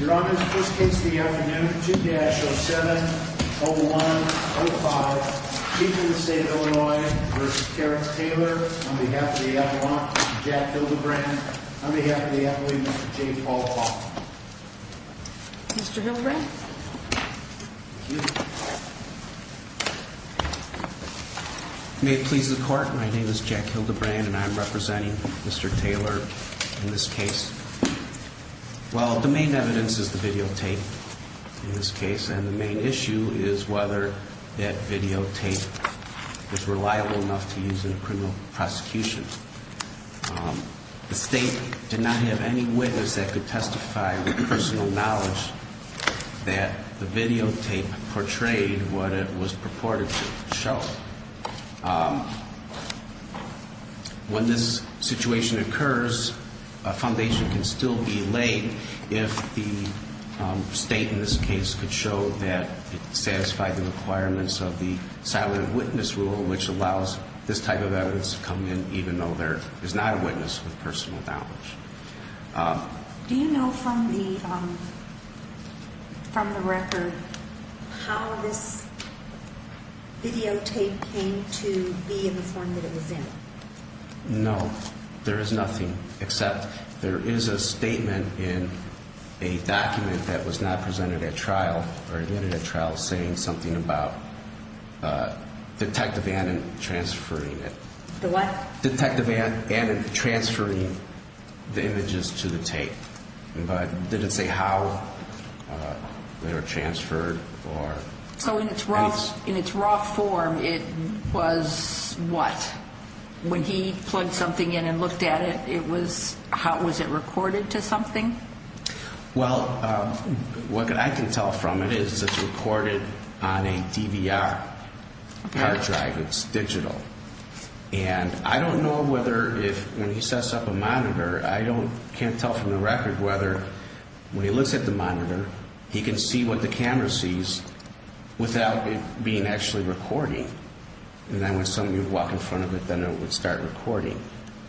Your Honor, this case of the afternoon, 2-07-01-05, Chief of the State of Illinois v. Terrence Taylor, on behalf of the Appellant, Jack Hildebrand, on behalf of the Appellant, Mr. J. Paul Hoffman. Mr. Hildebrand? Thank you. May it please the Court, my name is Jack Hildebrand and I am representing Mr. Taylor in this case. Well, the main evidence is the videotape in this case, and the main issue is whether that videotape is reliable enough to use in a criminal prosecution. The State did not have any witness that could testify with personal knowledge that the videotape portrayed what it was purported to show. When this situation occurs, a foundation can still be laid if the State in this case could show that it satisfied the requirements of the silent witness rule, which allows this type of evidence to come in even though there is not a witness with personal knowledge. Do you know from the record how this videotape came to be in the form that it was in? No, there is nothing, except there is a statement in a document that was not presented at trial, or admitted at trial, saying something about Detective Annan transferring it. The what? Detective Annan transferring the images to the tape, but did it say how they were transferred? So in its raw form, it was what? When he plugged something in and looked at it, was it recorded to something? Well, what I can tell from it is it's recorded on a DVR hard drive. It's digital. And I don't know whether if when he sets up a monitor, I can't tell from the record whether when he looks at the monitor, he can see what the camera sees without it being actually recording. And then when somebody would walk in front of it, then it would start recording.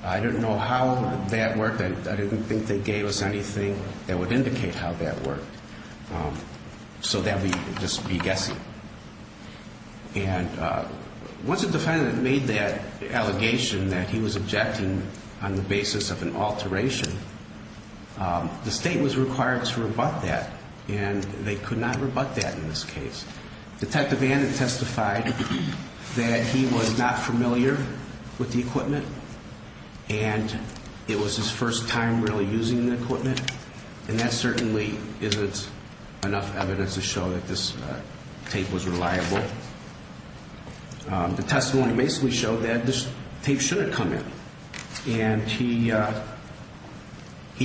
I don't know how that worked. I didn't think they gave us anything that would indicate how that worked. So that would just be guessing. And once a defendant made that allegation that he was objecting on the basis of an alteration, the state was required to rebut that, and they could not rebut that in this case. Detective Annan testified that he was not familiar with the equipment, and it was his first time really using the equipment. And that certainly isn't enough evidence to show that this tape was reliable. The testimony basically showed that this tape shouldn't come in. And he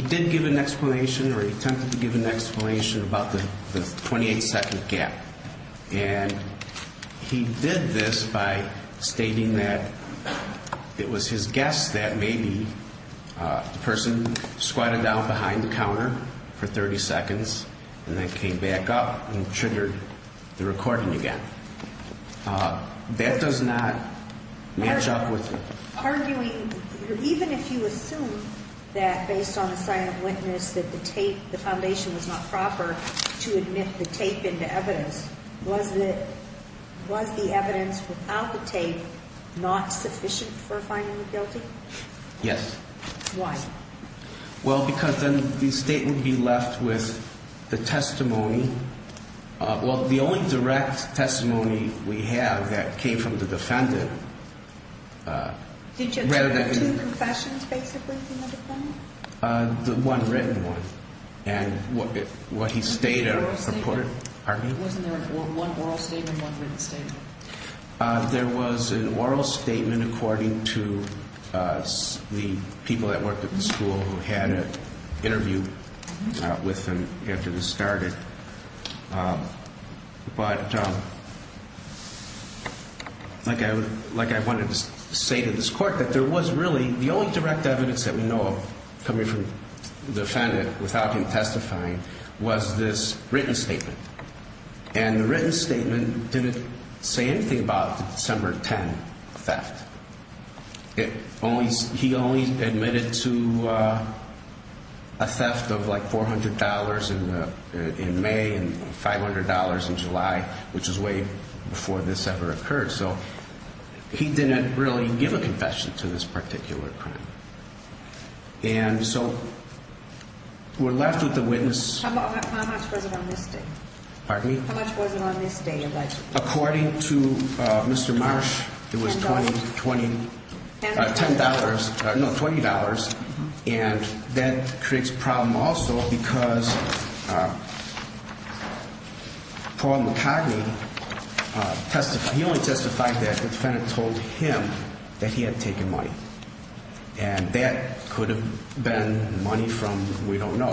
did give an explanation, or he attempted to give an explanation about the 28-second gap. And he did this by stating that it was his guess that maybe the person squatted down behind the counter for 30 seconds and then came back up and triggered the recording again. That does not match up with the... Arguing, even if you assume that based on the sign of witness that the tape, the foundation was not proper to admit the tape into evidence, was the evidence without the tape not sufficient for finding the guilty? Yes. Why? Well, because then the state would be left with the testimony. Well, the only direct testimony we have that came from the defendant rather than... Did you have two confessions, basically, from the defendant? The one written one. And what he stated... Was there an oral statement? Pardon me? Wasn't there one oral statement and one written statement? There was an oral statement according to the people that worked at the school who had an interview with him after this started. But, like I wanted to say to this Court, that there was really... The only direct evidence that we know of coming from the defendant without him testifying was this written statement. And the written statement didn't say anything about the December 10th theft. He only admitted to a theft of like $400 in May and $500 in July, which was way before this ever occurred. So, he didn't really give a confession to this particular crime. And so, we're left with the witness... How much was it on this day? Pardon me? How much was it on this day allegedly? According to Mr. Marsh, it was $20. $10? No, $20. And that creates a problem also because Paul McCartney testified... He only testified that the defendant told him that he had taken money. And that could have been money from we don't know.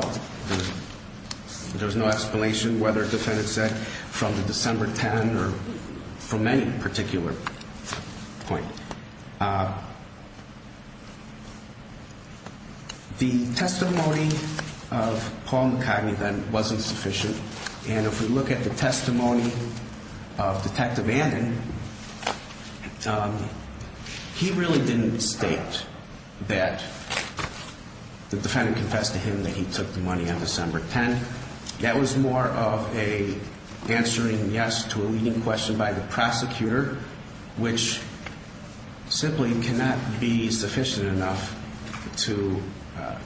There's no explanation whether the defendant said from the December 10th or from any particular point. The testimony of Paul McCartney then wasn't sufficient. And if we look at the testimony of Detective Anden, he really didn't state that the defendant confessed to him that he took the money on December 10th. That was more of an answering yes to a leading question by the prosecutor, which simply cannot be sufficient enough to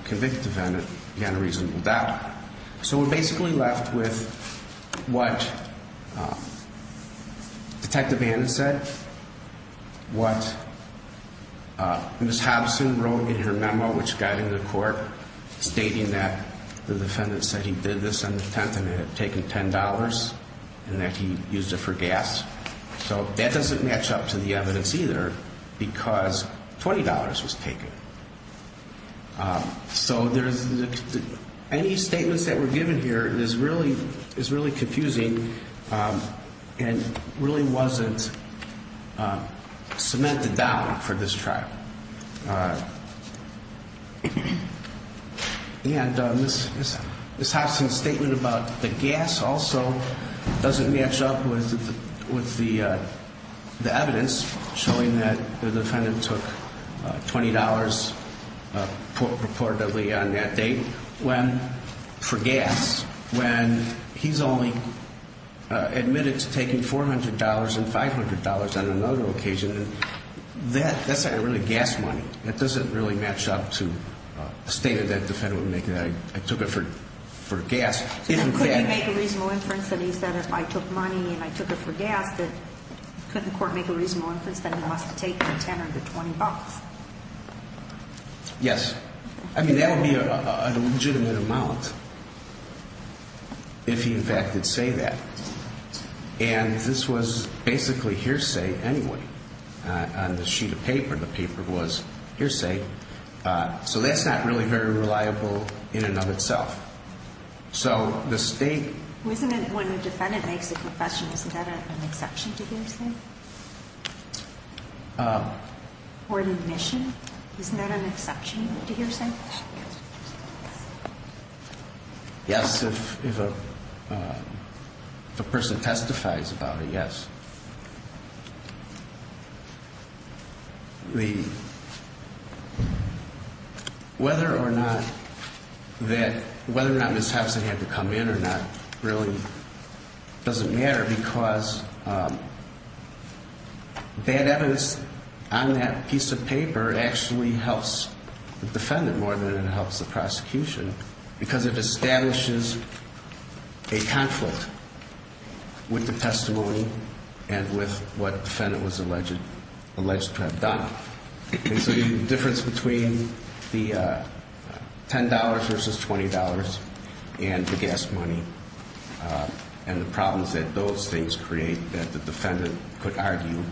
convict the defendant on a reasonable doubt. So, we're basically left with what Detective Anden said, what Ms. Hobson wrote in her memo, which got into court, stating that the defendant said he did this on the 10th and had taken $10 and that he used it for gas. So, that doesn't match up to the evidence either because $20 was taken. So, any statements that were given here is really confusing and really wasn't cemented down for this trial. And Ms. Hobson's statement about the gas also doesn't match up with the evidence showing that the defendant took $20 purportedly on that date for gas, when he's only admitted to taking $400 and $500 on another occasion. That's not really gas money. That doesn't really match up to a statement that the defendant would make that I took it for gas. If in fact... Could he make a reasonable inference that he said if I took money and I took it for gas, that could the court make a reasonable inference that he must have taken the $10 or the $20? Yes. I mean, that would be a legitimate amount if he, in fact, did say that. And this was basically hearsay anyway. On the sheet of paper, the paper was hearsay. So, that's not really very reliable in and of itself. So, the state... When a defendant makes a confession, isn't that an exception to hearsay? Or an admission? Isn't that an exception to hearsay? Yes. If a person testifies about it, yes. The... Whether or not that... Whether or not Ms. Hobson had to come in or not really doesn't matter because... This piece of paper actually helps the defendant more than it helps the prosecution because it establishes a conflict with the testimony and with what the defendant was alleged to have done. And so, the difference between the $10 versus $20 and the gas money and the problems that those things create that the defendant could argue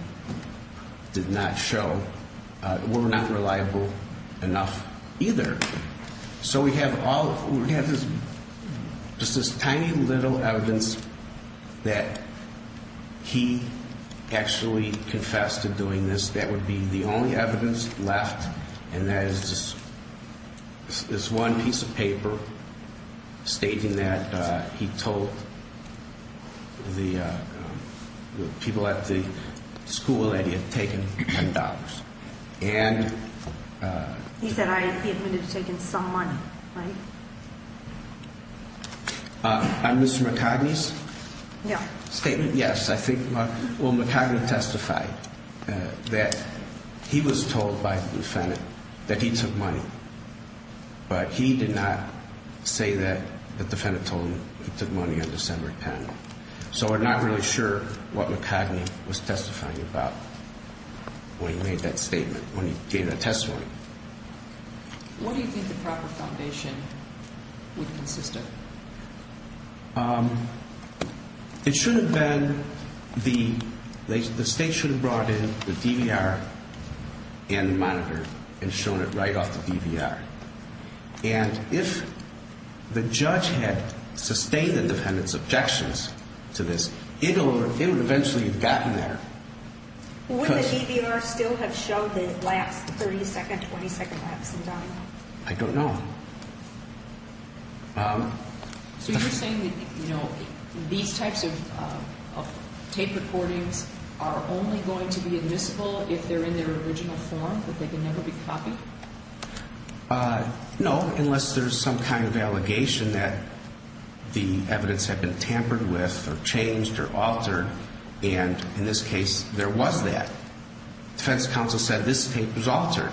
did not show were not reliable enough either. So, we have all... We have just this tiny little evidence that he actually confessed to doing this. That would be the only evidence left. And that is just this one piece of paper stating that he told the people at the school that he had taken $10. And... He said he admitted to taking some money, right? On Mr. McCogney's statement? Yes. Yes, I think... Well, McCogney testified that he was told by the defendant that he took money, but he did not say that the defendant told him he took money on December 10th. So, we're not really sure what McCogney was testifying about when he made that statement, when he gave that testimony. What do you think the proper foundation would consist of? It should have been... The state should have brought in the DVR and the monitor and shown it right off the DVR. And if the judge had sustained the defendant's objections to this, it would eventually have gotten there. Would the DVR still have shown the last 30-second, 20-second lapse in time? I don't know. So, you're saying that these types of tape recordings are only going to be admissible if they're in their original form, that they can never be copied? No, unless there's some kind of allegation that the evidence had been tampered with or changed or altered. And in this case, there was that. Defense counsel said this tape was altered.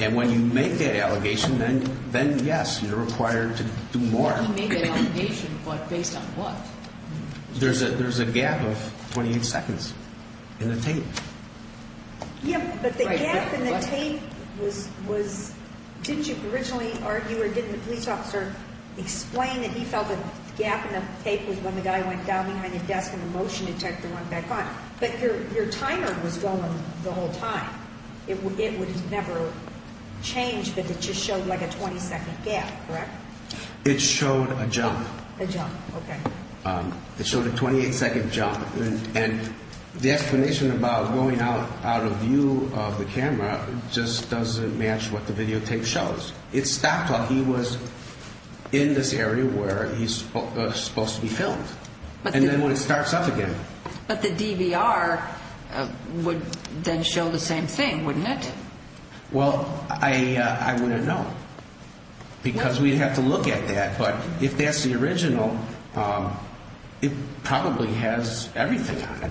And when you make that allegation, then yes, you're required to do more. You make that allegation, but based on what? There's a gap of 28 seconds in the tape. Yeah, but the gap in the tape was... Didn't you originally argue or didn't the police officer explain that he felt that the gap in the tape was when the guy went down behind the desk and the motion detector went back on? But your timer was going the whole time. It would never change, but it just showed like a 20-second gap, correct? It showed a jump. A jump, okay. It showed a 28-second jump. And the explanation about going out of view of the camera just doesn't match what the videotape shows. It stopped while he was in this area where he's supposed to be filmed. And then when it starts up again. But the DVR would then show the same thing, wouldn't it? Well, I wouldn't know because we'd have to look at that. But if that's the original, it probably has everything on it.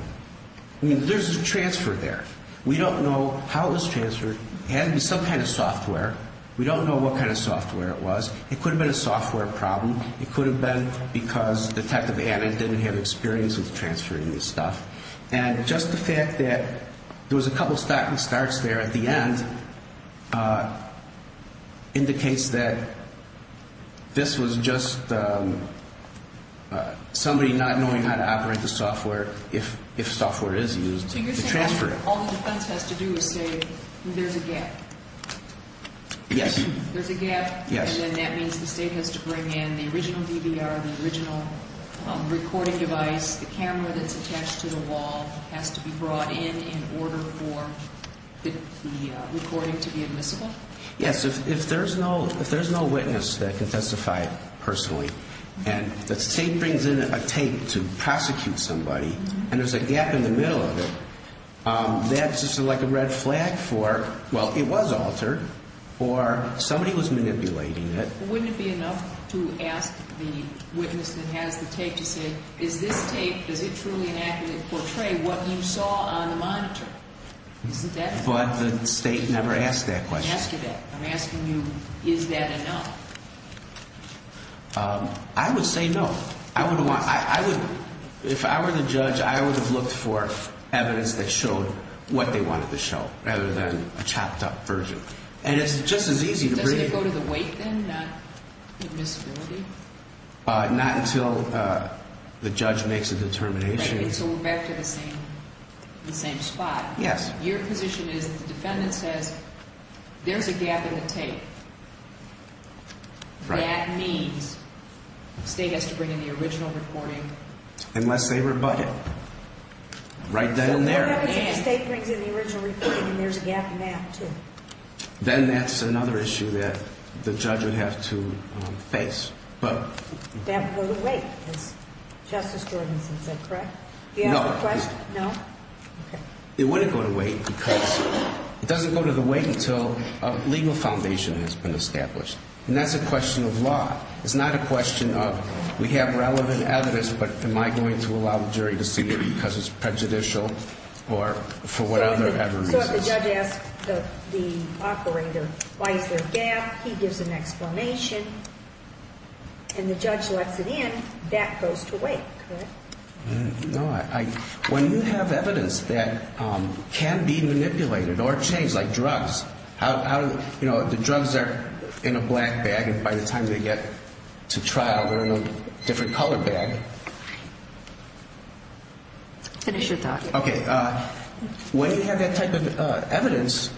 I mean, there's a transfer there. We don't know how it was transferred. It had to be some kind of software. We don't know what kind of software it was. It could have been a software problem. It could have been because Detective Anand didn't have experience with transferring this stuff. And just the fact that there was a couple of stopping starts there at the end indicates that this was just somebody not knowing how to operate the software if software is used to transfer it. All the defense has to do is say there's a gap. Yes. There's a gap. Yes. And then that means the State has to bring in the original DVR, the original recording device, the camera that's attached to the wall has to be brought in in order for the recording to be admissible? Yes. If there's no witness that can testify personally and the State brings in a tape to prosecute somebody and there's a gap in the middle of it, that's just like a red flag for, well, it was altered. Or somebody was manipulating it. Wouldn't it be enough to ask the witness that has the tape to say, is this tape, is it truly an accurate portray what you saw on the monitor? Isn't that enough? But the State never asked that question. Asked it. I'm asking you, is that enough? I would say no. If I were the judge, I would have looked for evidence that showed what they wanted to show rather than a chopped up version. And it's just as easy to bring. Does it go to the weight then, not admissibility? Not until the judge makes a determination. Right, until we're back to the same spot. Yes. Your position is the defendant says there's a gap in the tape. Right. That means the State has to bring in the original reporting. Unless they rebut it. Right then and there. So what happens if the State brings in the original reporting and there's a gap in that, too? Then that's another issue that the judge would have to face. That would go to weight, as Justice Jordansen said, correct? No. Do you have a question? No? Okay. It wouldn't go to weight because it doesn't go to the weight until a legal foundation has been established. And that's a question of law. It's not a question of we have relevant evidence, but am I going to allow the jury to see it because it's prejudicial or for whatever reason? So if the judge asks the operator why is there a gap, he gives an explanation, and the judge lets it in, that goes to weight, correct? No. When you have evidence that can be manipulated or changed, like drugs, you know, the drugs are in a black bag and by the time they get to trial they're in a different color bag. Finish your talk. Okay. When you have that type of evidence,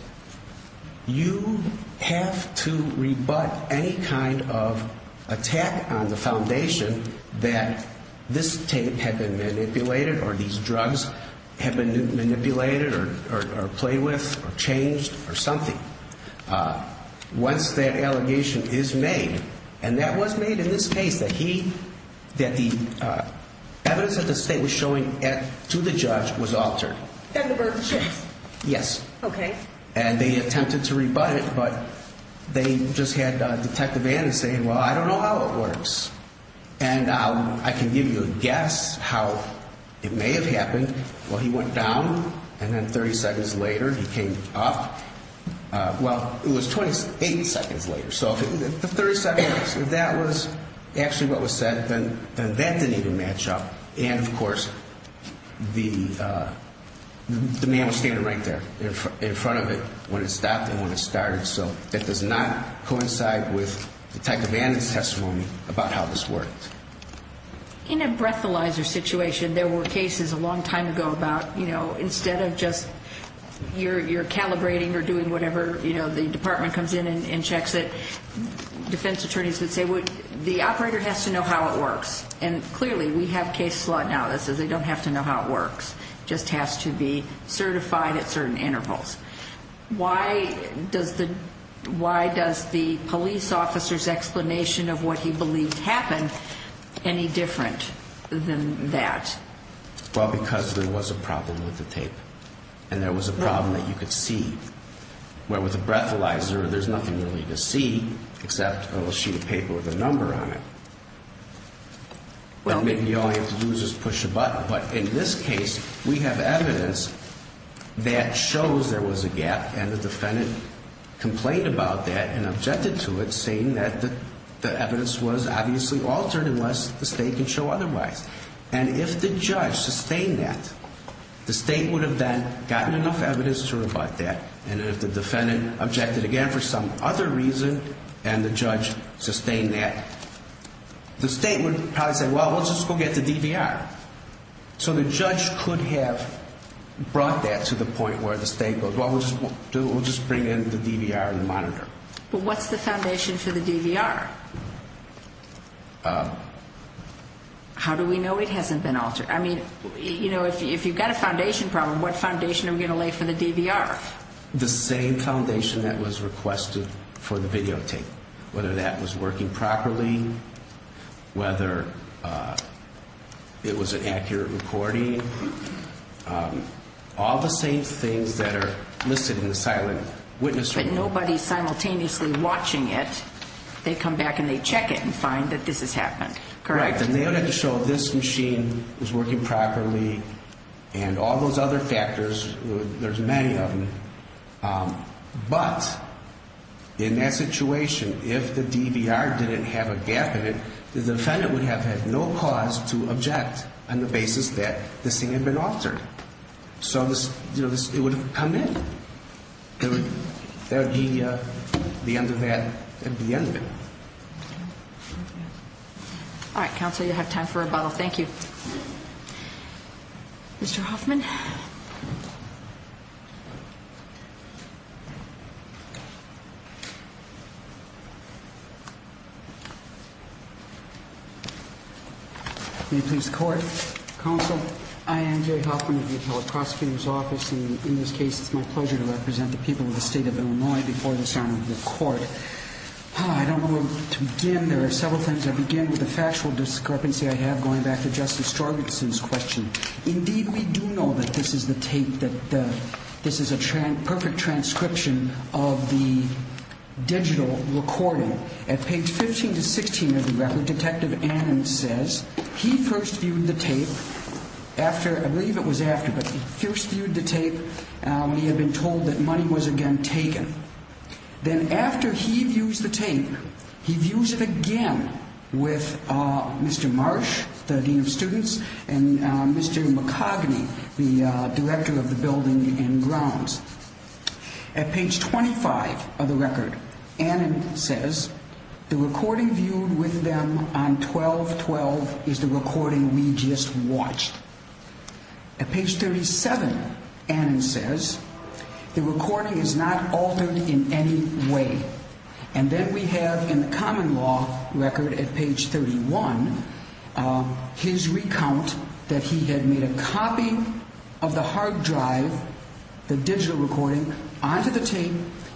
you have to rebut any kind of attack on the foundation that this tape had been manipulated or these drugs had been manipulated or played with or changed or something. Once that allegation is made, and that was made in this case, that the evidence that the state was showing to the judge was altered. And the verdict was changed? Yes. Okay. And they attempted to rebut it, but they just had Detective Vanden say, well, I don't know how it works. And I can give you a guess how it may have happened. Well, he went down, and then 30 seconds later he came up. Well, it was 28 seconds later. So if the 30 seconds, if that was actually what was said, then that didn't even match up. And, of course, the man was standing right there in front of it when it stopped and when it started. So that does not coincide with Detective Vanden's testimony about how this worked. In a breathalyzer situation, there were cases a long time ago about, you know, instead of just you're calibrating or doing whatever, you know, the department comes in and checks it, defense attorneys would say, well, the operator has to know how it works. And, clearly, we have case law now that says they don't have to know how it works. It just has to be certified at certain intervals. Why does the police officer's explanation of what he believed happened any different than that? Well, because there was a problem with the tape. And there was a problem that you could see. Where with a breathalyzer, there's nothing really to see except a little sheet of paper with a number on it. Well, maybe all you have to do is just push a button. But in this case, we have evidence that shows there was a gap. And the defendant complained about that and objected to it, saying that the evidence was obviously altered unless the state could show otherwise. And if the judge sustained that, the state would have then gotten enough evidence to rebut that. And if the defendant objected again for some other reason and the judge sustained that, the state would probably say, well, let's just go get the DVR. So the judge could have brought that to the point where the state goes, well, we'll just bring in the DVR and monitor. But what's the foundation for the DVR? How do we know it hasn't been altered? I mean, you know, if you've got a foundation problem, what foundation are we going to lay for the DVR? The same foundation that was requested for the videotape. Whether that was working properly, whether it was an accurate recording, all the same things that are listed in the silent witness report. But nobody simultaneously watching it, they come back and they check it and find that this has happened, correct? And they don't have to show this machine was working properly and all those other factors. There's many of them. But in that situation, if the DVR didn't have a gap in it, the defendant would have had no cause to object on the basis that this thing had been altered. So it would have come in. There would be the end of that at the end of it. All right, counsel, you have time for rebuttal. Thank you. Mr. Hoffman. May it please the court. Counsel, I am Jerry Hoffman of the appellate prosecutor's office. And in this case, it's my pleasure to represent the people of the state of Illinois before the Senate and the court. I don't know where to begin. There are several things. I'll begin with the factual discrepancy I have going back to Justice Strogatz's question. Indeed, we do know that this is the tape, that this is a perfect transcription of the digital recording. At page 15 to 16 of the record, Detective Annan says he first viewed the tape after – I believe it was after, but he first viewed the tape when he had been told that money was again taken. Then after he views the tape, he views it again with Mr. Marsh, the dean of students, and Mr. McCogney, the director of the building and grounds. At page 25 of the record, Annan says the recording viewed with them on 12-12 is the recording we just watched. At page 37, Annan says the recording is not altered in any way. And then we have in the common law record at page 31 his recount that he had made a copy of the hard drive, the digital recording, onto the tape.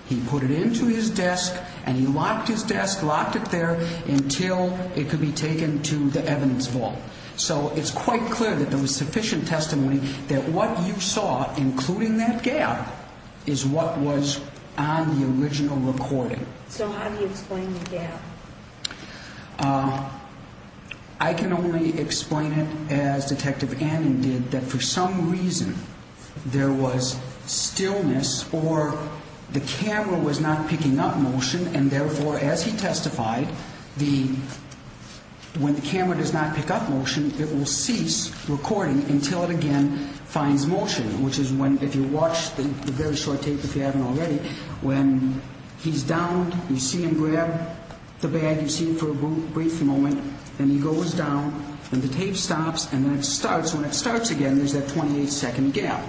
He put it into his desk and he locked his desk, locked it there until it could be taken to the evidence vault. So it's quite clear that there was sufficient testimony that what you saw, including that gap, is what was on the original recording. So how do you explain the gap? I can only explain it as Detective Annan did, that for some reason there was stillness or the camera was not picking up motion. And therefore, as he testified, when the camera does not pick up motion, it will cease recording until it again finds motion. Which is when, if you watch the very short tape, if you haven't already, when he's down, you see him grab the bag, you see him for a brief moment, then he goes down, then the tape stops, and then it starts. When it starts again, there's that 28-second gap.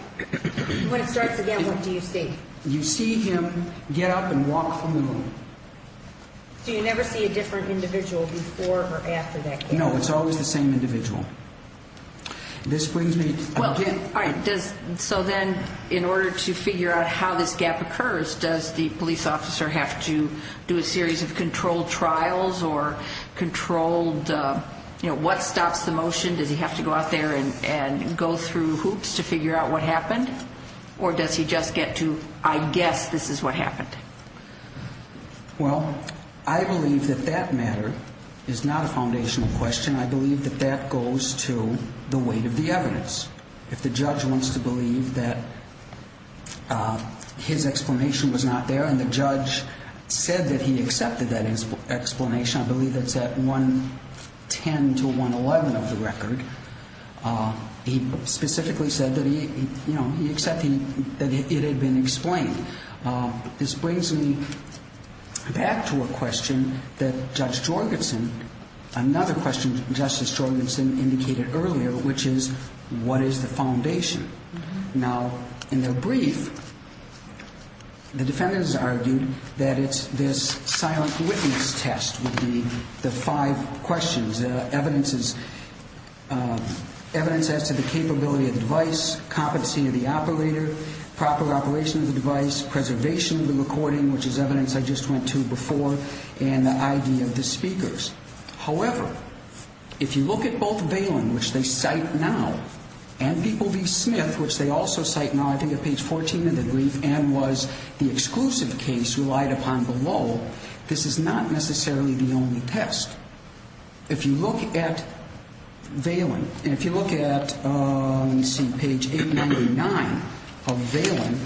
When it starts again, what do you see? You see him get up and walk from the room. So you never see a different individual before or after that gap? No, it's always the same individual. This brings me again. All right. So then in order to figure out how this gap occurs, does the police officer have to do a series of controlled trials or controlled, you know, what stops the motion? Does he have to go out there and go through hoops to figure out what happened? Or does he just get to, I guess this is what happened? Well, I believe that that matter is not a foundational question. I believe that that goes to the weight of the evidence. If the judge wants to believe that his explanation was not there and the judge said that he accepted that explanation, I believe that's at 110 to 111 of the record, he specifically said that he, you know, he accepted that it had been explained. This brings me back to a question that Judge Jorgensen, another question Justice Jorgensen indicated earlier, which is what is the foundation? Now, in their brief, the defendants argued that it's this silent witness test would be the five questions. The evidence is evidence as to the capability of the device, competency of the operator, proper operation of the device, preservation of the recording, which is evidence I just went to before, and the ID of the speakers. However, if you look at both Valen, which they cite now, and People v. Smith, which they also cite now, I think at page 14 of the brief, and was the exclusive case relied upon below, this is not necessarily the only test. If you look at Valen, and if you look at, let me see, page 899 of Valen,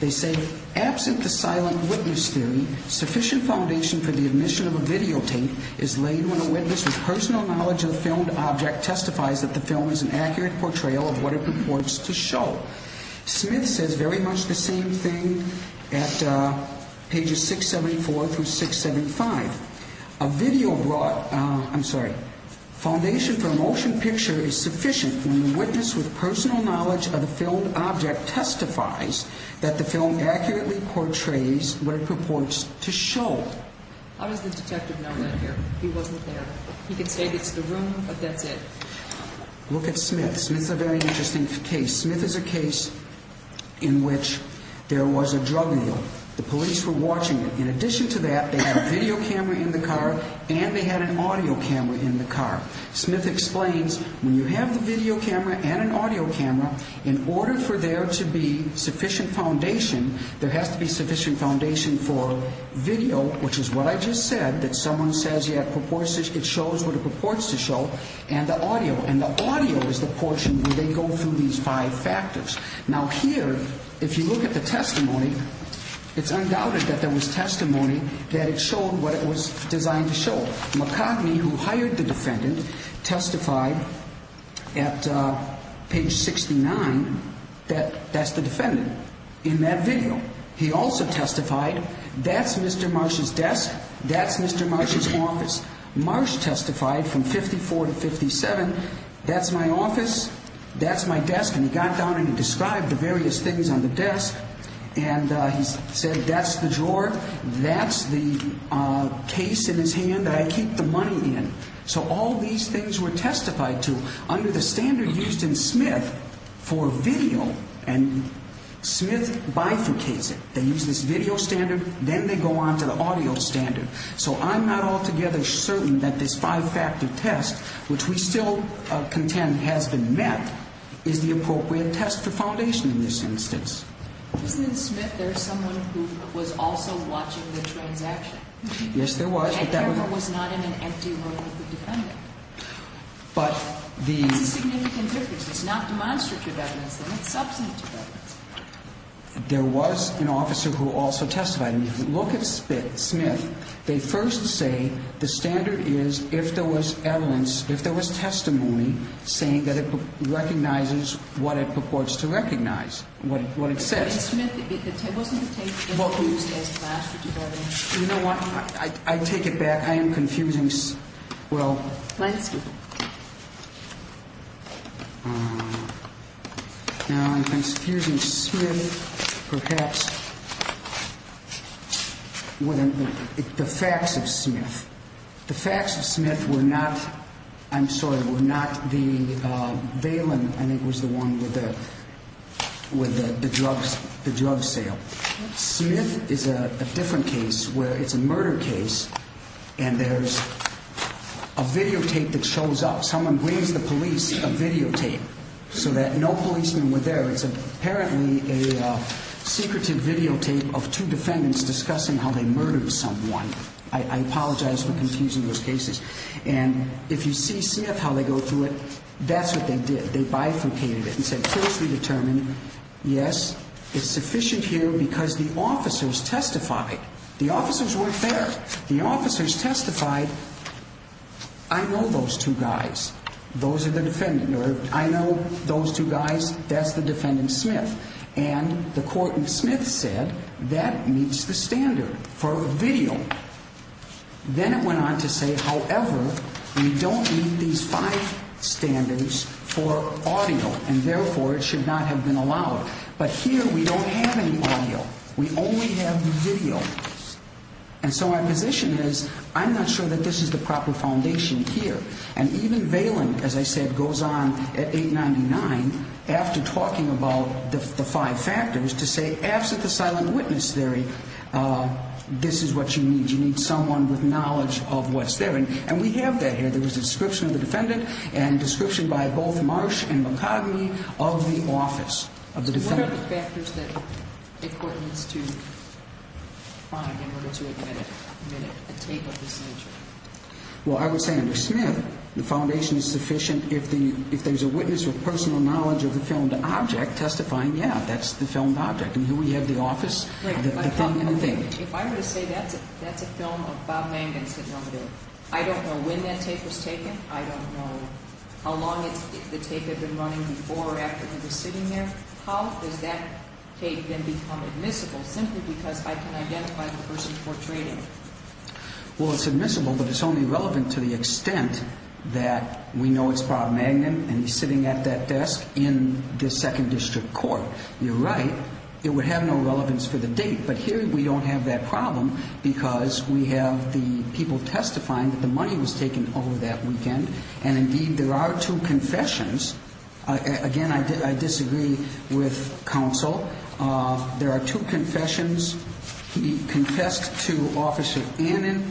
they say, absent the silent witness theory, sufficient foundation for the admission of a videotape is laid when a witness with personal knowledge of the filmed object testifies that the film is an accurate portrayal of what it purports to show. Smith says very much the same thing at pages 674 through 675. A video brought, I'm sorry, foundation for a motion picture is sufficient when the witness with personal knowledge of the filmed object testifies that the film accurately portrays what it purports to show. How does the detective know that here? He wasn't there. He can say it's the room, but that's it. Look at Smith. Smith's a very interesting case. Smith is a case in which there was a drug deal. The police were watching him. In addition to that, they had a video camera in the car, and they had an audio camera in the car. Smith explains, when you have the video camera and an audio camera, in order for there to be sufficient foundation, there has to be sufficient foundation for video, which is what I just said, that someone says it shows what it purports to show, and the audio, and the audio is the portion where they go through these five factors. Now here, if you look at the testimony, it's undoubted that there was testimony that it showed what it was designed to show. McCartney, who hired the defendant, testified at page 69 that that's the defendant in that video. He also testified, that's Mr. Marsh's desk, that's Mr. Marsh's office. Marsh testified from 54 to 57, that's my office, that's my desk, and he got down and he described the various things on the desk, and he said that's the drawer, that's the case in his hand that I keep the money in. So all these things were testified to under the standard used in Smith for video, and Smith bifurcates it. They use this video standard, then they go on to the audio standard. So I'm not altogether certain that this five-factor test, which we still contend has been met, is the appropriate test for foundation in this instance. Isn't it Smith, there's someone who was also watching the transaction? Yes, there was, but that was not in an empty room with the defendant. But the... It's a significant difference. It's not demonstrative evidence. It's substantive evidence. There was an officer who also testified. And if you look at Smith, they first say the standard is if there was evidence, if there was testimony saying that it recognizes what it purports to recognize, what it says. In Smith, it wasn't the tape that was used as glass, which is why they... You know what? I take it back. I am confusing... Well... Let's see. Now I'm confusing Smith perhaps with the facts of Smith. The facts of Smith were not... I'm sorry, were not the valent, and it was the one with the drug sale. Smith is a different case where it's a murder case, and there's a videotape that shows up. Someone brings the police a videotape so that no policemen were there. It's apparently a secretive videotape of two defendants discussing how they murdered someone. I apologize for confusing those cases. And if you see Smith, how they go through it, that's what they did. They bifurcated it and said closely determined, yes, it's sufficient here because the officers testified. The officers weren't there. The officers testified. I know those two guys. Those are the defendant. I know those two guys. That's the defendant, Smith. And the court in Smith said that meets the standard for video. Then it went on to say, however, we don't meet these five standards for audio, and therefore it should not have been allowed. But here we don't have any audio. We only have video. And so my position is I'm not sure that this is the proper foundation here. And even Valen, as I said, goes on at 899 after talking about the five factors to say, absent the silent witness theory, this is what you need. You need someone with knowledge of what's there. And we have that here. There was a description of the defendant and a description by both Marsh and McCogney of the office of the defendant. What are the factors that the court needs to find in order to admit a tape of this nature? Well, I would say under Smith, the foundation is sufficient if there's a witness with personal knowledge of the filmed object testifying, yeah, that's the filmed object. And here we have the office of the defendant. If I were to say that's a film of Bob Langdon's hit number, I don't know when that tape was taken. I don't know how long the tape had been running before or after he was sitting there. How does that tape then become admissible simply because I can identify the person portraying it? Well, it's admissible, but it's only relevant to the extent that we know it's Bob Langdon and he's sitting at that desk in the second district court. You're right. It would have no relevance for the date. But here we don't have that problem because we have the people testifying that the money was taken over that weekend. And, indeed, there are two confessions. Again, I disagree with counsel. There are two confessions. He confessed to Office of Annan.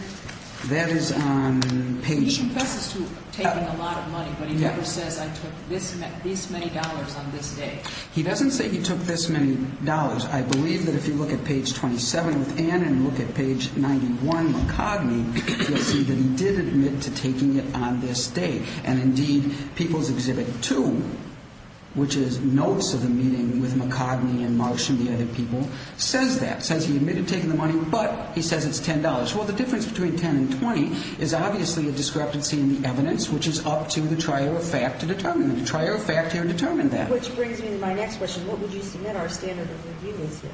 That is on page 22. He confesses to taking a lot of money, but he never says I took this many dollars on this day. He doesn't say he took this many dollars. I believe that if you look at page 27 with Annan and look at page 91 with Cogney, you'll see that he did admit to taking it on this day. And, indeed, People's Exhibit 2, which is notes of the meeting with McCogney and Marsh and the other people, says that. It says he admitted taking the money, but he says it's $10. Well, the difference between 10 and 20 is obviously a discrepancy in the evidence, which is up to the trier of fact to determine that. The trier of fact here determined that. Which brings me to my next question. What would you submit our standard of review is here?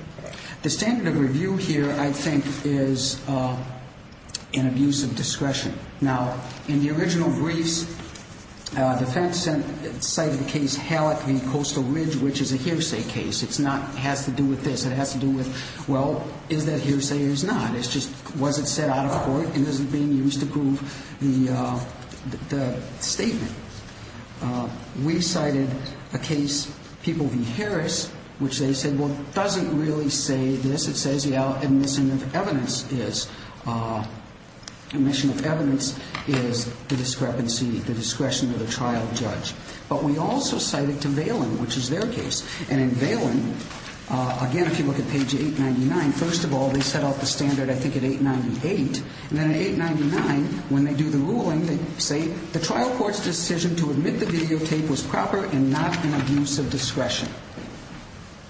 The standard of review here, I think, is an abuse of discretion. Now, in the original briefs, defense cited the case Hallock v. Coastal Ridge, which is a hearsay case. It's not has to do with this. It has to do with, well, is that hearsay or is it not? It's just was it said out of court and is it being used to prove the statement? We cited a case, People v. Harris, which they said, well, it doesn't really say this. It says the admission of evidence is the discrepancy, the discretion of the trial judge. But we also cited to Valen, which is their case. And in Valen, again, if you look at page 899, first of all, they set out the standard, I think, at 898. And then at 899, when they do the ruling, they say the trial court's decision to admit the videotape was proper and not an abuse of discretion.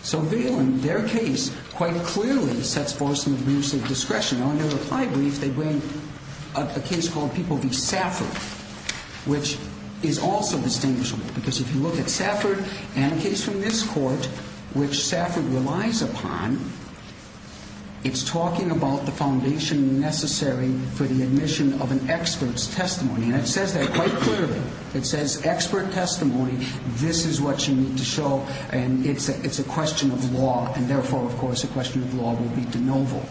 So Valen, their case quite clearly sets forth some abuse of discretion. Now, in their reply brief, they bring up a case called People v. Safford, which is also distinguishable. Because if you look at Safford and a case from this court, which Safford relies upon, it's talking about the foundation necessary for the admission of an expert's testimony. And it says that quite clearly. It says expert testimony. This is what you need to show. And it's a question of law. And therefore, of course, a question of law will be de novo.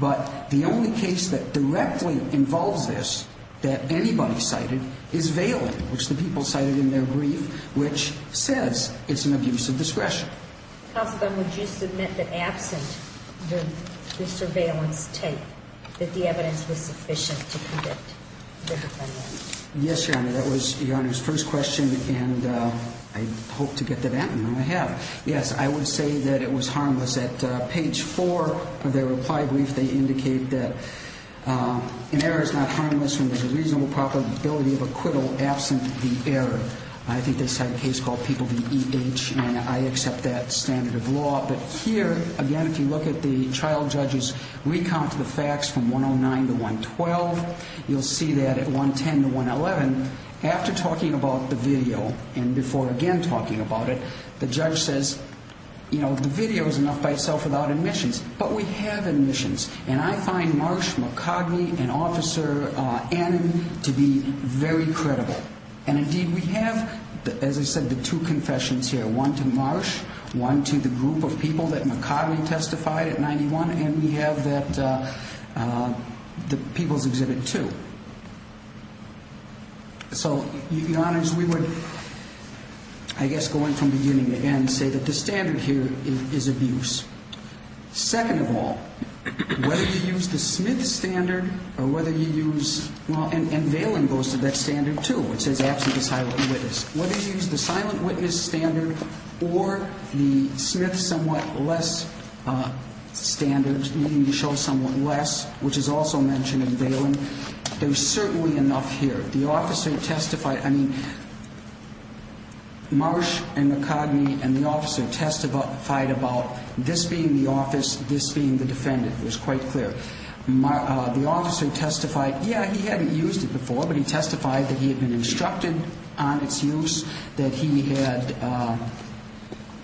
But the only case that directly involves this that anybody cited is Valen, which the people cited in their brief, which says it's an abuse of discretion. Counsel, then would you submit that absent the surveillance tape, that the evidence was sufficient to convict the defendant? Yes, Your Honor. That was Your Honor's first question, and I hope to get to that, and I have. Yes, I would say that it was harmless. At page 4 of their reply brief, they indicate that an error is not harmless when there's a reasonable probability of acquittal absent the error. I think they cite a case called People v. E.H., and I accept that standard of law. But here, again, if you look at the trial judge's recount of the facts from 109 to 112, you'll see that at 110 to 111, after talking about the video and before again talking about it, the judge says, you know, the video is enough by itself without admissions. But we have admissions, and I find Marsh, McCogney, and Officer Annan to be very credible. And, indeed, we have, as I said, the two confessions here, one to Marsh, one to the group of people that McCogney testified at 91, and we have that People's Exhibit 2. So, Your Honors, we would, I guess, going from beginning to end, say that the standard here is abuse. Second of all, whether you use the Smith standard or whether you use, well, and Valen goes to that standard, too. It says absent the silent witness. Whether you use the silent witness standard or the Smith somewhat less standard, needing to show somewhat less, which is also mentioned in Valen, there's certainly enough here. The officer testified, I mean, Marsh and McCogney and the officer testified about this being the office, this being the defendant. It was quite clear. The officer testified, yeah, he hadn't used it before, but he testified that he had been instructed on its use, that he had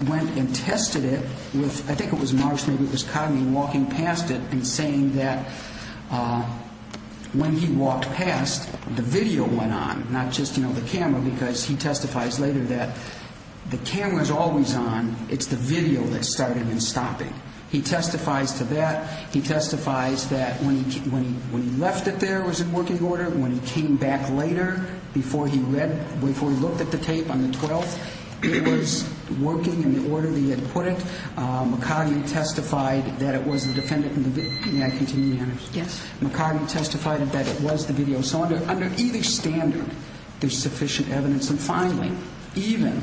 went and tested it with, I think it was Marsh, maybe it was Cogney, walking past it and saying that when he walked past, the video went on, not just, you know, the camera, because he testifies later that the camera's always on. It's the video that started him stopping. He testifies to that. He testifies that when he left it there, it was in working order. When he came back later, before he looked at the tape on the 12th, it was working in the order that he had put it. McCogney testified that it was the defendant in the video. May I continue, Your Honor? Yes. McCogney testified that it was the video. So under either standard, there's sufficient evidence. And finally, even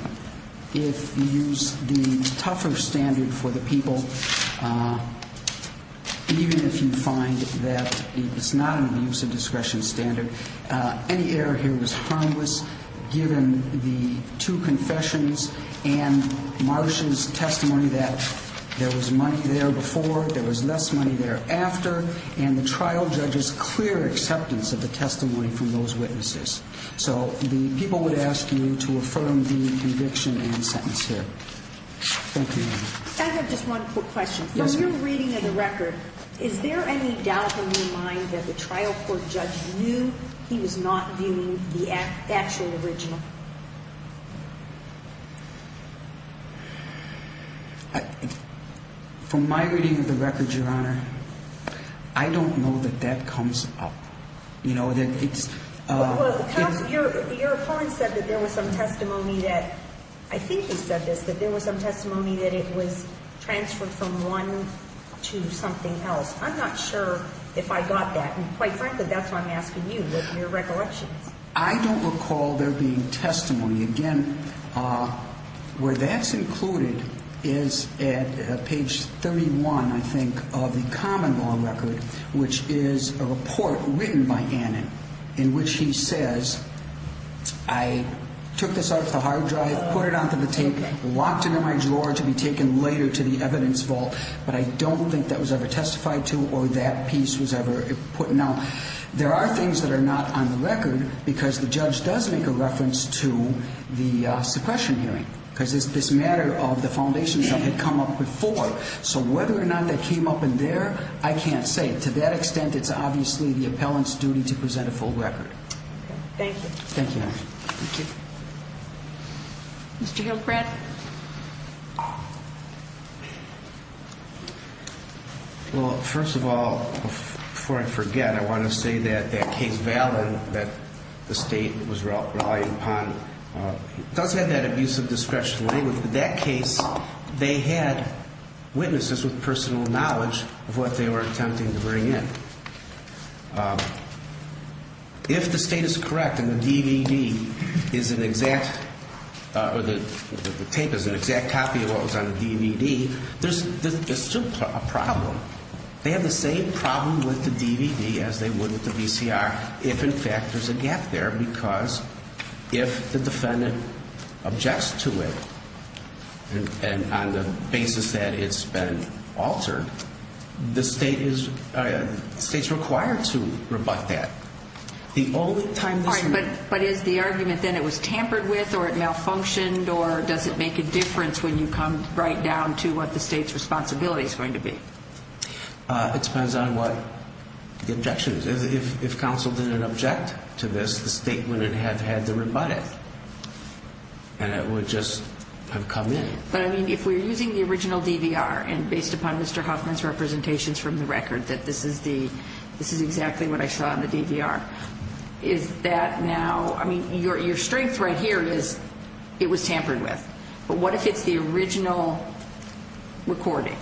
if you use the tougher standard for the people, even if you find that it's not in the use of discretion standard, any error here was harmless given the two confessions and Marsh's testimony that there was money there before, there was less money thereafter, and the trial judge's clear acceptance of the testimony from those witnesses. So the people would ask you to affirm the conviction and sentence here. Thank you, Your Honor. I have just one quick question. Yes, ma'am. From your reading of the record, is there any doubt in your mind that the trial court judge knew he was not viewing the actual original? From my reading of the record, Your Honor, I don't know that that comes up. Your opponent said that there was some testimony that, I think he said this, that there was some testimony that it was transferred from one to something else. I'm not sure if I got that. And quite frankly, that's what I'm asking you with your recollections. I don't recall there being testimony. Again, where that's included is at page 31, I think, of the common law record, which is a report written by Annen in which he says, I took this out of the hard drive, put it onto the tape, locked it in my drawer to be taken later to the evidence vault, but I don't think that was ever testified to or that piece was ever put. Now, there are things that are not on the record because the judge does make a reference to the suppression hearing because it's this matter of the foundations that had come up before. So whether or not that came up in there, I can't say. To that extent, it's obviously the appellant's duty to present a full record. Thank you. Thank you, Your Honor. Thank you. Mr. Hillcrest? Well, first of all, before I forget, I want to say that that case, Valin, that the State was relying upon, does have that abuse of discretion language. In that case, they had witnesses with personal knowledge of what they were attempting to bring in. If the State is correct and the DVD is an exact, or the tape is an exact copy of what was on the DVD, there's still a problem. They have the same problem with the DVD as they would with the VCR if, in fact, there's a gap there because if the defendant objects to it and on the basis that it's been altered, the State is required to rebut that. The only time this... All right, but is the argument then it was tampered with or it malfunctioned or does it make a difference when you come right down to what the State's responsibility is going to be? It depends on what the objection is. If counsel didn't object to this, the State wouldn't have had to rebut it, and it would just have come in. But, I mean, if we're using the original DVR and based upon Mr. Hoffman's representations from the record that this is exactly what I saw on the DVR, is that now... I mean, your strength right here is it was tampered with, but what if it's the original recording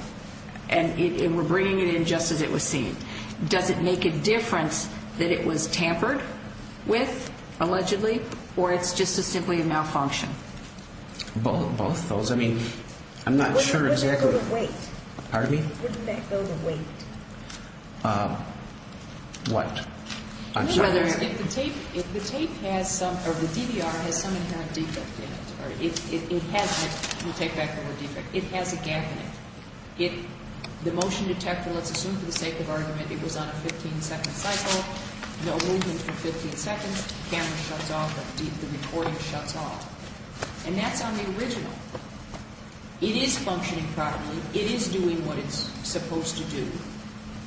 and we're bringing it in just as it was seen? Does it make a difference that it was tampered with, allegedly, or it's just simply a malfunction? Both of those. I mean, I'm not sure exactly... Wouldn't that go to wait? Pardon me? Wouldn't that go to wait? What? I'm sorry. If the tape has some, or the DVR has some inherent defect in it, or it has a gap in it, the motion detector, let's assume for the sake of argument, it was on a 15-second cycle, no movement for 15 seconds, the camera shuts off, the recording shuts off. And that's on the original. It is functioning properly. It is doing what it's supposed to do.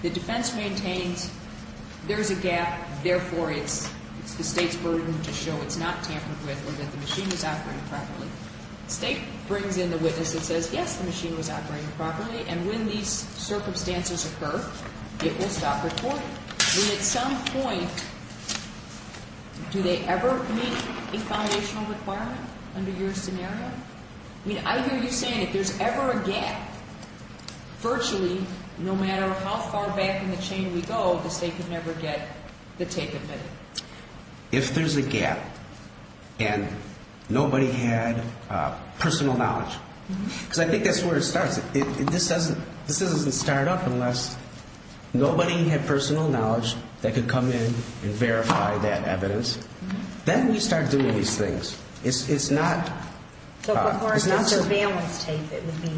The defense maintains there's a gap, therefore it's the state's burden to show it's not tampered with or that the machine was operating properly. The state brings in the witness and says, yes, the machine was operating properly, and when these circumstances occur, it will stop recording. And at some point, do they ever meet a foundational requirement under your scenario? I mean, I hear you saying if there's ever a gap, virtually, no matter how far back in the chain we go, the state could never get the tape admitted. If there's a gap and nobody had personal knowledge, because I think that's where it starts. This doesn't start up unless nobody had personal knowledge that could come in and verify that evidence. Then we start doing these things. It's not the surveillance tape that would be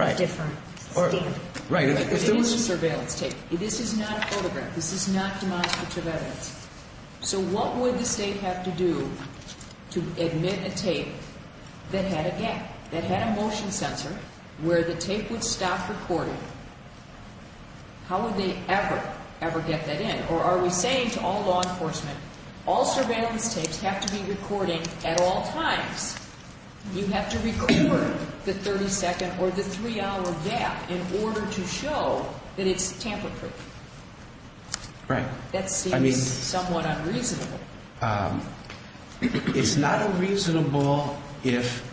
a different standard. Right. If there was a surveillance tape, this is not a photograph. This is not demonstrative evidence. So what would the state have to do to admit a tape that had a gap, that had a motion sensor, where the tape would stop recording? How would they ever, ever get that in? Or are we saying to all law enforcement, all surveillance tapes have to be recording at all times? You have to record the 30-second or the 3-hour gap in order to show that it's tamper-proof. Right. That seems somewhat unreasonable. It's not unreasonable if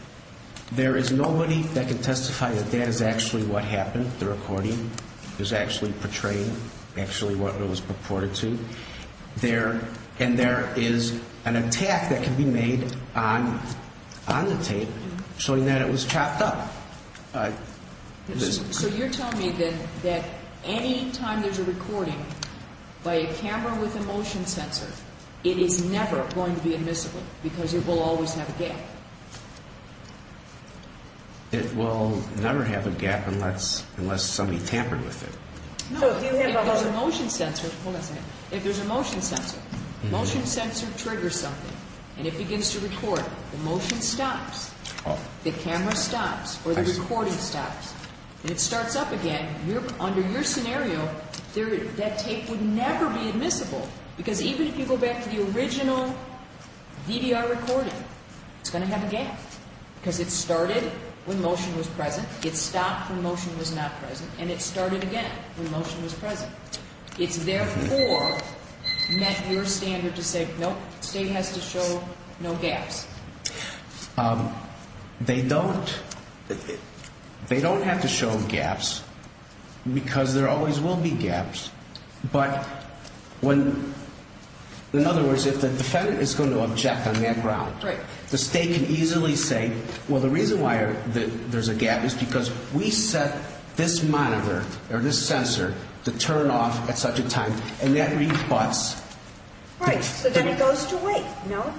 there is nobody that can testify that that is actually what happened, the recording was actually portrayed, actually what it was reported to. And there is an attack that can be made on the tape showing that it was chopped up. So you're telling me that any time there's a recording by a camera with a motion sensor, it is never going to be admissible because it will always have a gap? It will never have a gap unless somebody tampered with it. No, if there's a motion sensor, hold on a second. If there's a motion sensor, motion sensor triggers something and it begins to record, the motion stops, the camera stops, or the recording stops, and it starts up again, under your scenario, that tape would never be admissible because even if you go back to the original VDR recording, it's going to have a gap because it started when motion was present, it stopped when motion was not present, and it started again when motion was present. It's therefore met your standard to say, nope, the State has to show no gaps. They don't have to show gaps because there always will be gaps. But in other words, if the defendant is going to object on that ground, the State can easily say, well, the reason why there's a gap is because we set this monitor or this sensor to turn off at such a time, and that rebuts. Right, so then it goes to wait, no?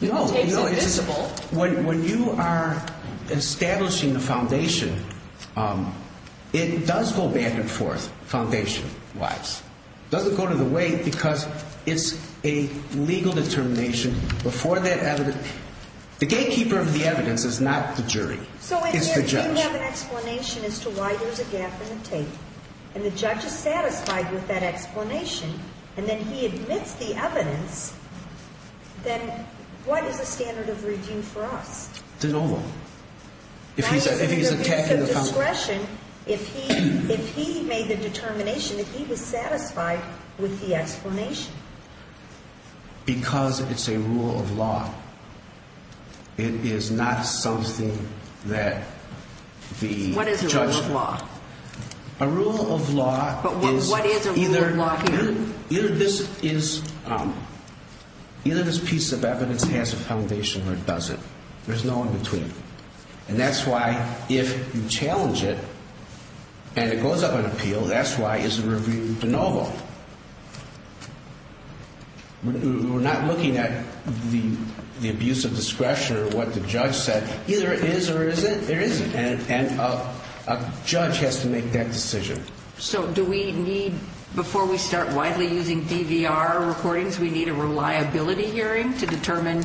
No, when you are establishing the foundation, it does go back and forth foundation-wise. It doesn't go to the wait because it's a legal determination. The gatekeeper of the evidence is not the jury, it's the judge. So if you have an explanation as to why there's a gap in the tape, and the judge is satisfied with that explanation, and then he admits the evidence, then what is the standard of redeem for us? It's a no vote. If he's attacking the foundation. If he made the determination that he was satisfied with the explanation. Because it's a rule of law. It is not something that the judge. What is a rule of law? A rule of law is either this piece of evidence has a foundation or it doesn't. There's no in-between. And that's why if you challenge it, and it goes up in appeal, that's why it's a review de novo. We're not looking at the abuse of discretion or what the judge said. Either it is or it isn't, it isn't. And a judge has to make that decision. So do we need, before we start widely using DVR recordings, we need a reliability hearing to determine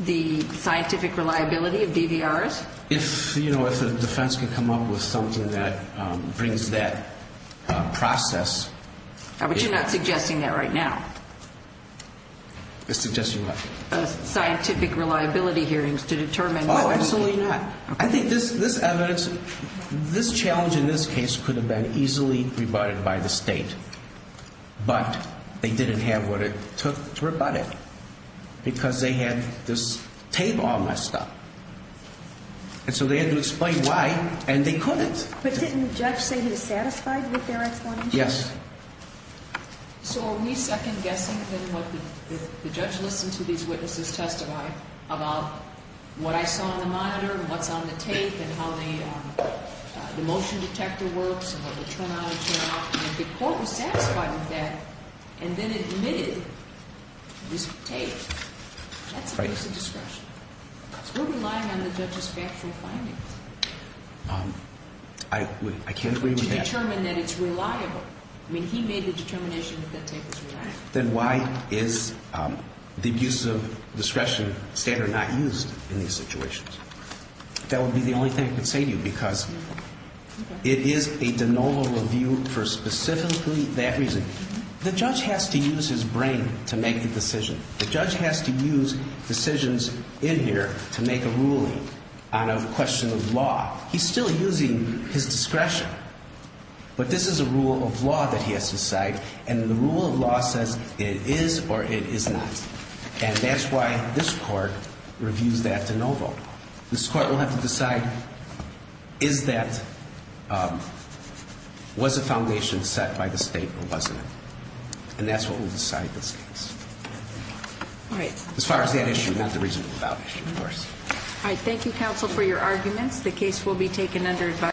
the scientific reliability of DVRs? If the defense can come up with something that brings that process. But you're not suggesting that right now. Suggesting what? Scientific reliability hearings to determine. Oh, absolutely not. I think this evidence, this challenge in this case could have been easily rebutted by the state. But they didn't have what it took to rebut it. Because they had this tape all messed up. And so they had to explain why, and they couldn't. But didn't the judge say he was satisfied with their explanation? Yes. So are we second-guessing then what the judge listened to these witnesses testify about? What I saw on the monitor, what's on the tape, and how the motion detector works, and how they turn on and turn off, and if the court was satisfied with that, and then admitted this tape, that's abuse of discretion. So we're relying on the judge's factual findings. I can't agree with that. To determine that it's reliable. I mean, he made the determination that that tape was reliable. Then why is the abuse of discretion standard not used in these situations? That would be the only thing I could say to you, because it is a de novo review for specifically that reason. The judge has to use his brain to make a decision. The judge has to use decisions in here to make a ruling on a question of law. He's still using his discretion. But this is a rule of law that he has to cite, and the rule of law says it is or it is not. And that's why this court reviews that de novo. This court will have to decide, is that, was the foundation set by the state or wasn't it? And that's what will decide this case. All right. As far as that issue, not the reasonable doubt issue, of course. All right. Thank you, counsel, for your arguments. The case will be taken under advice.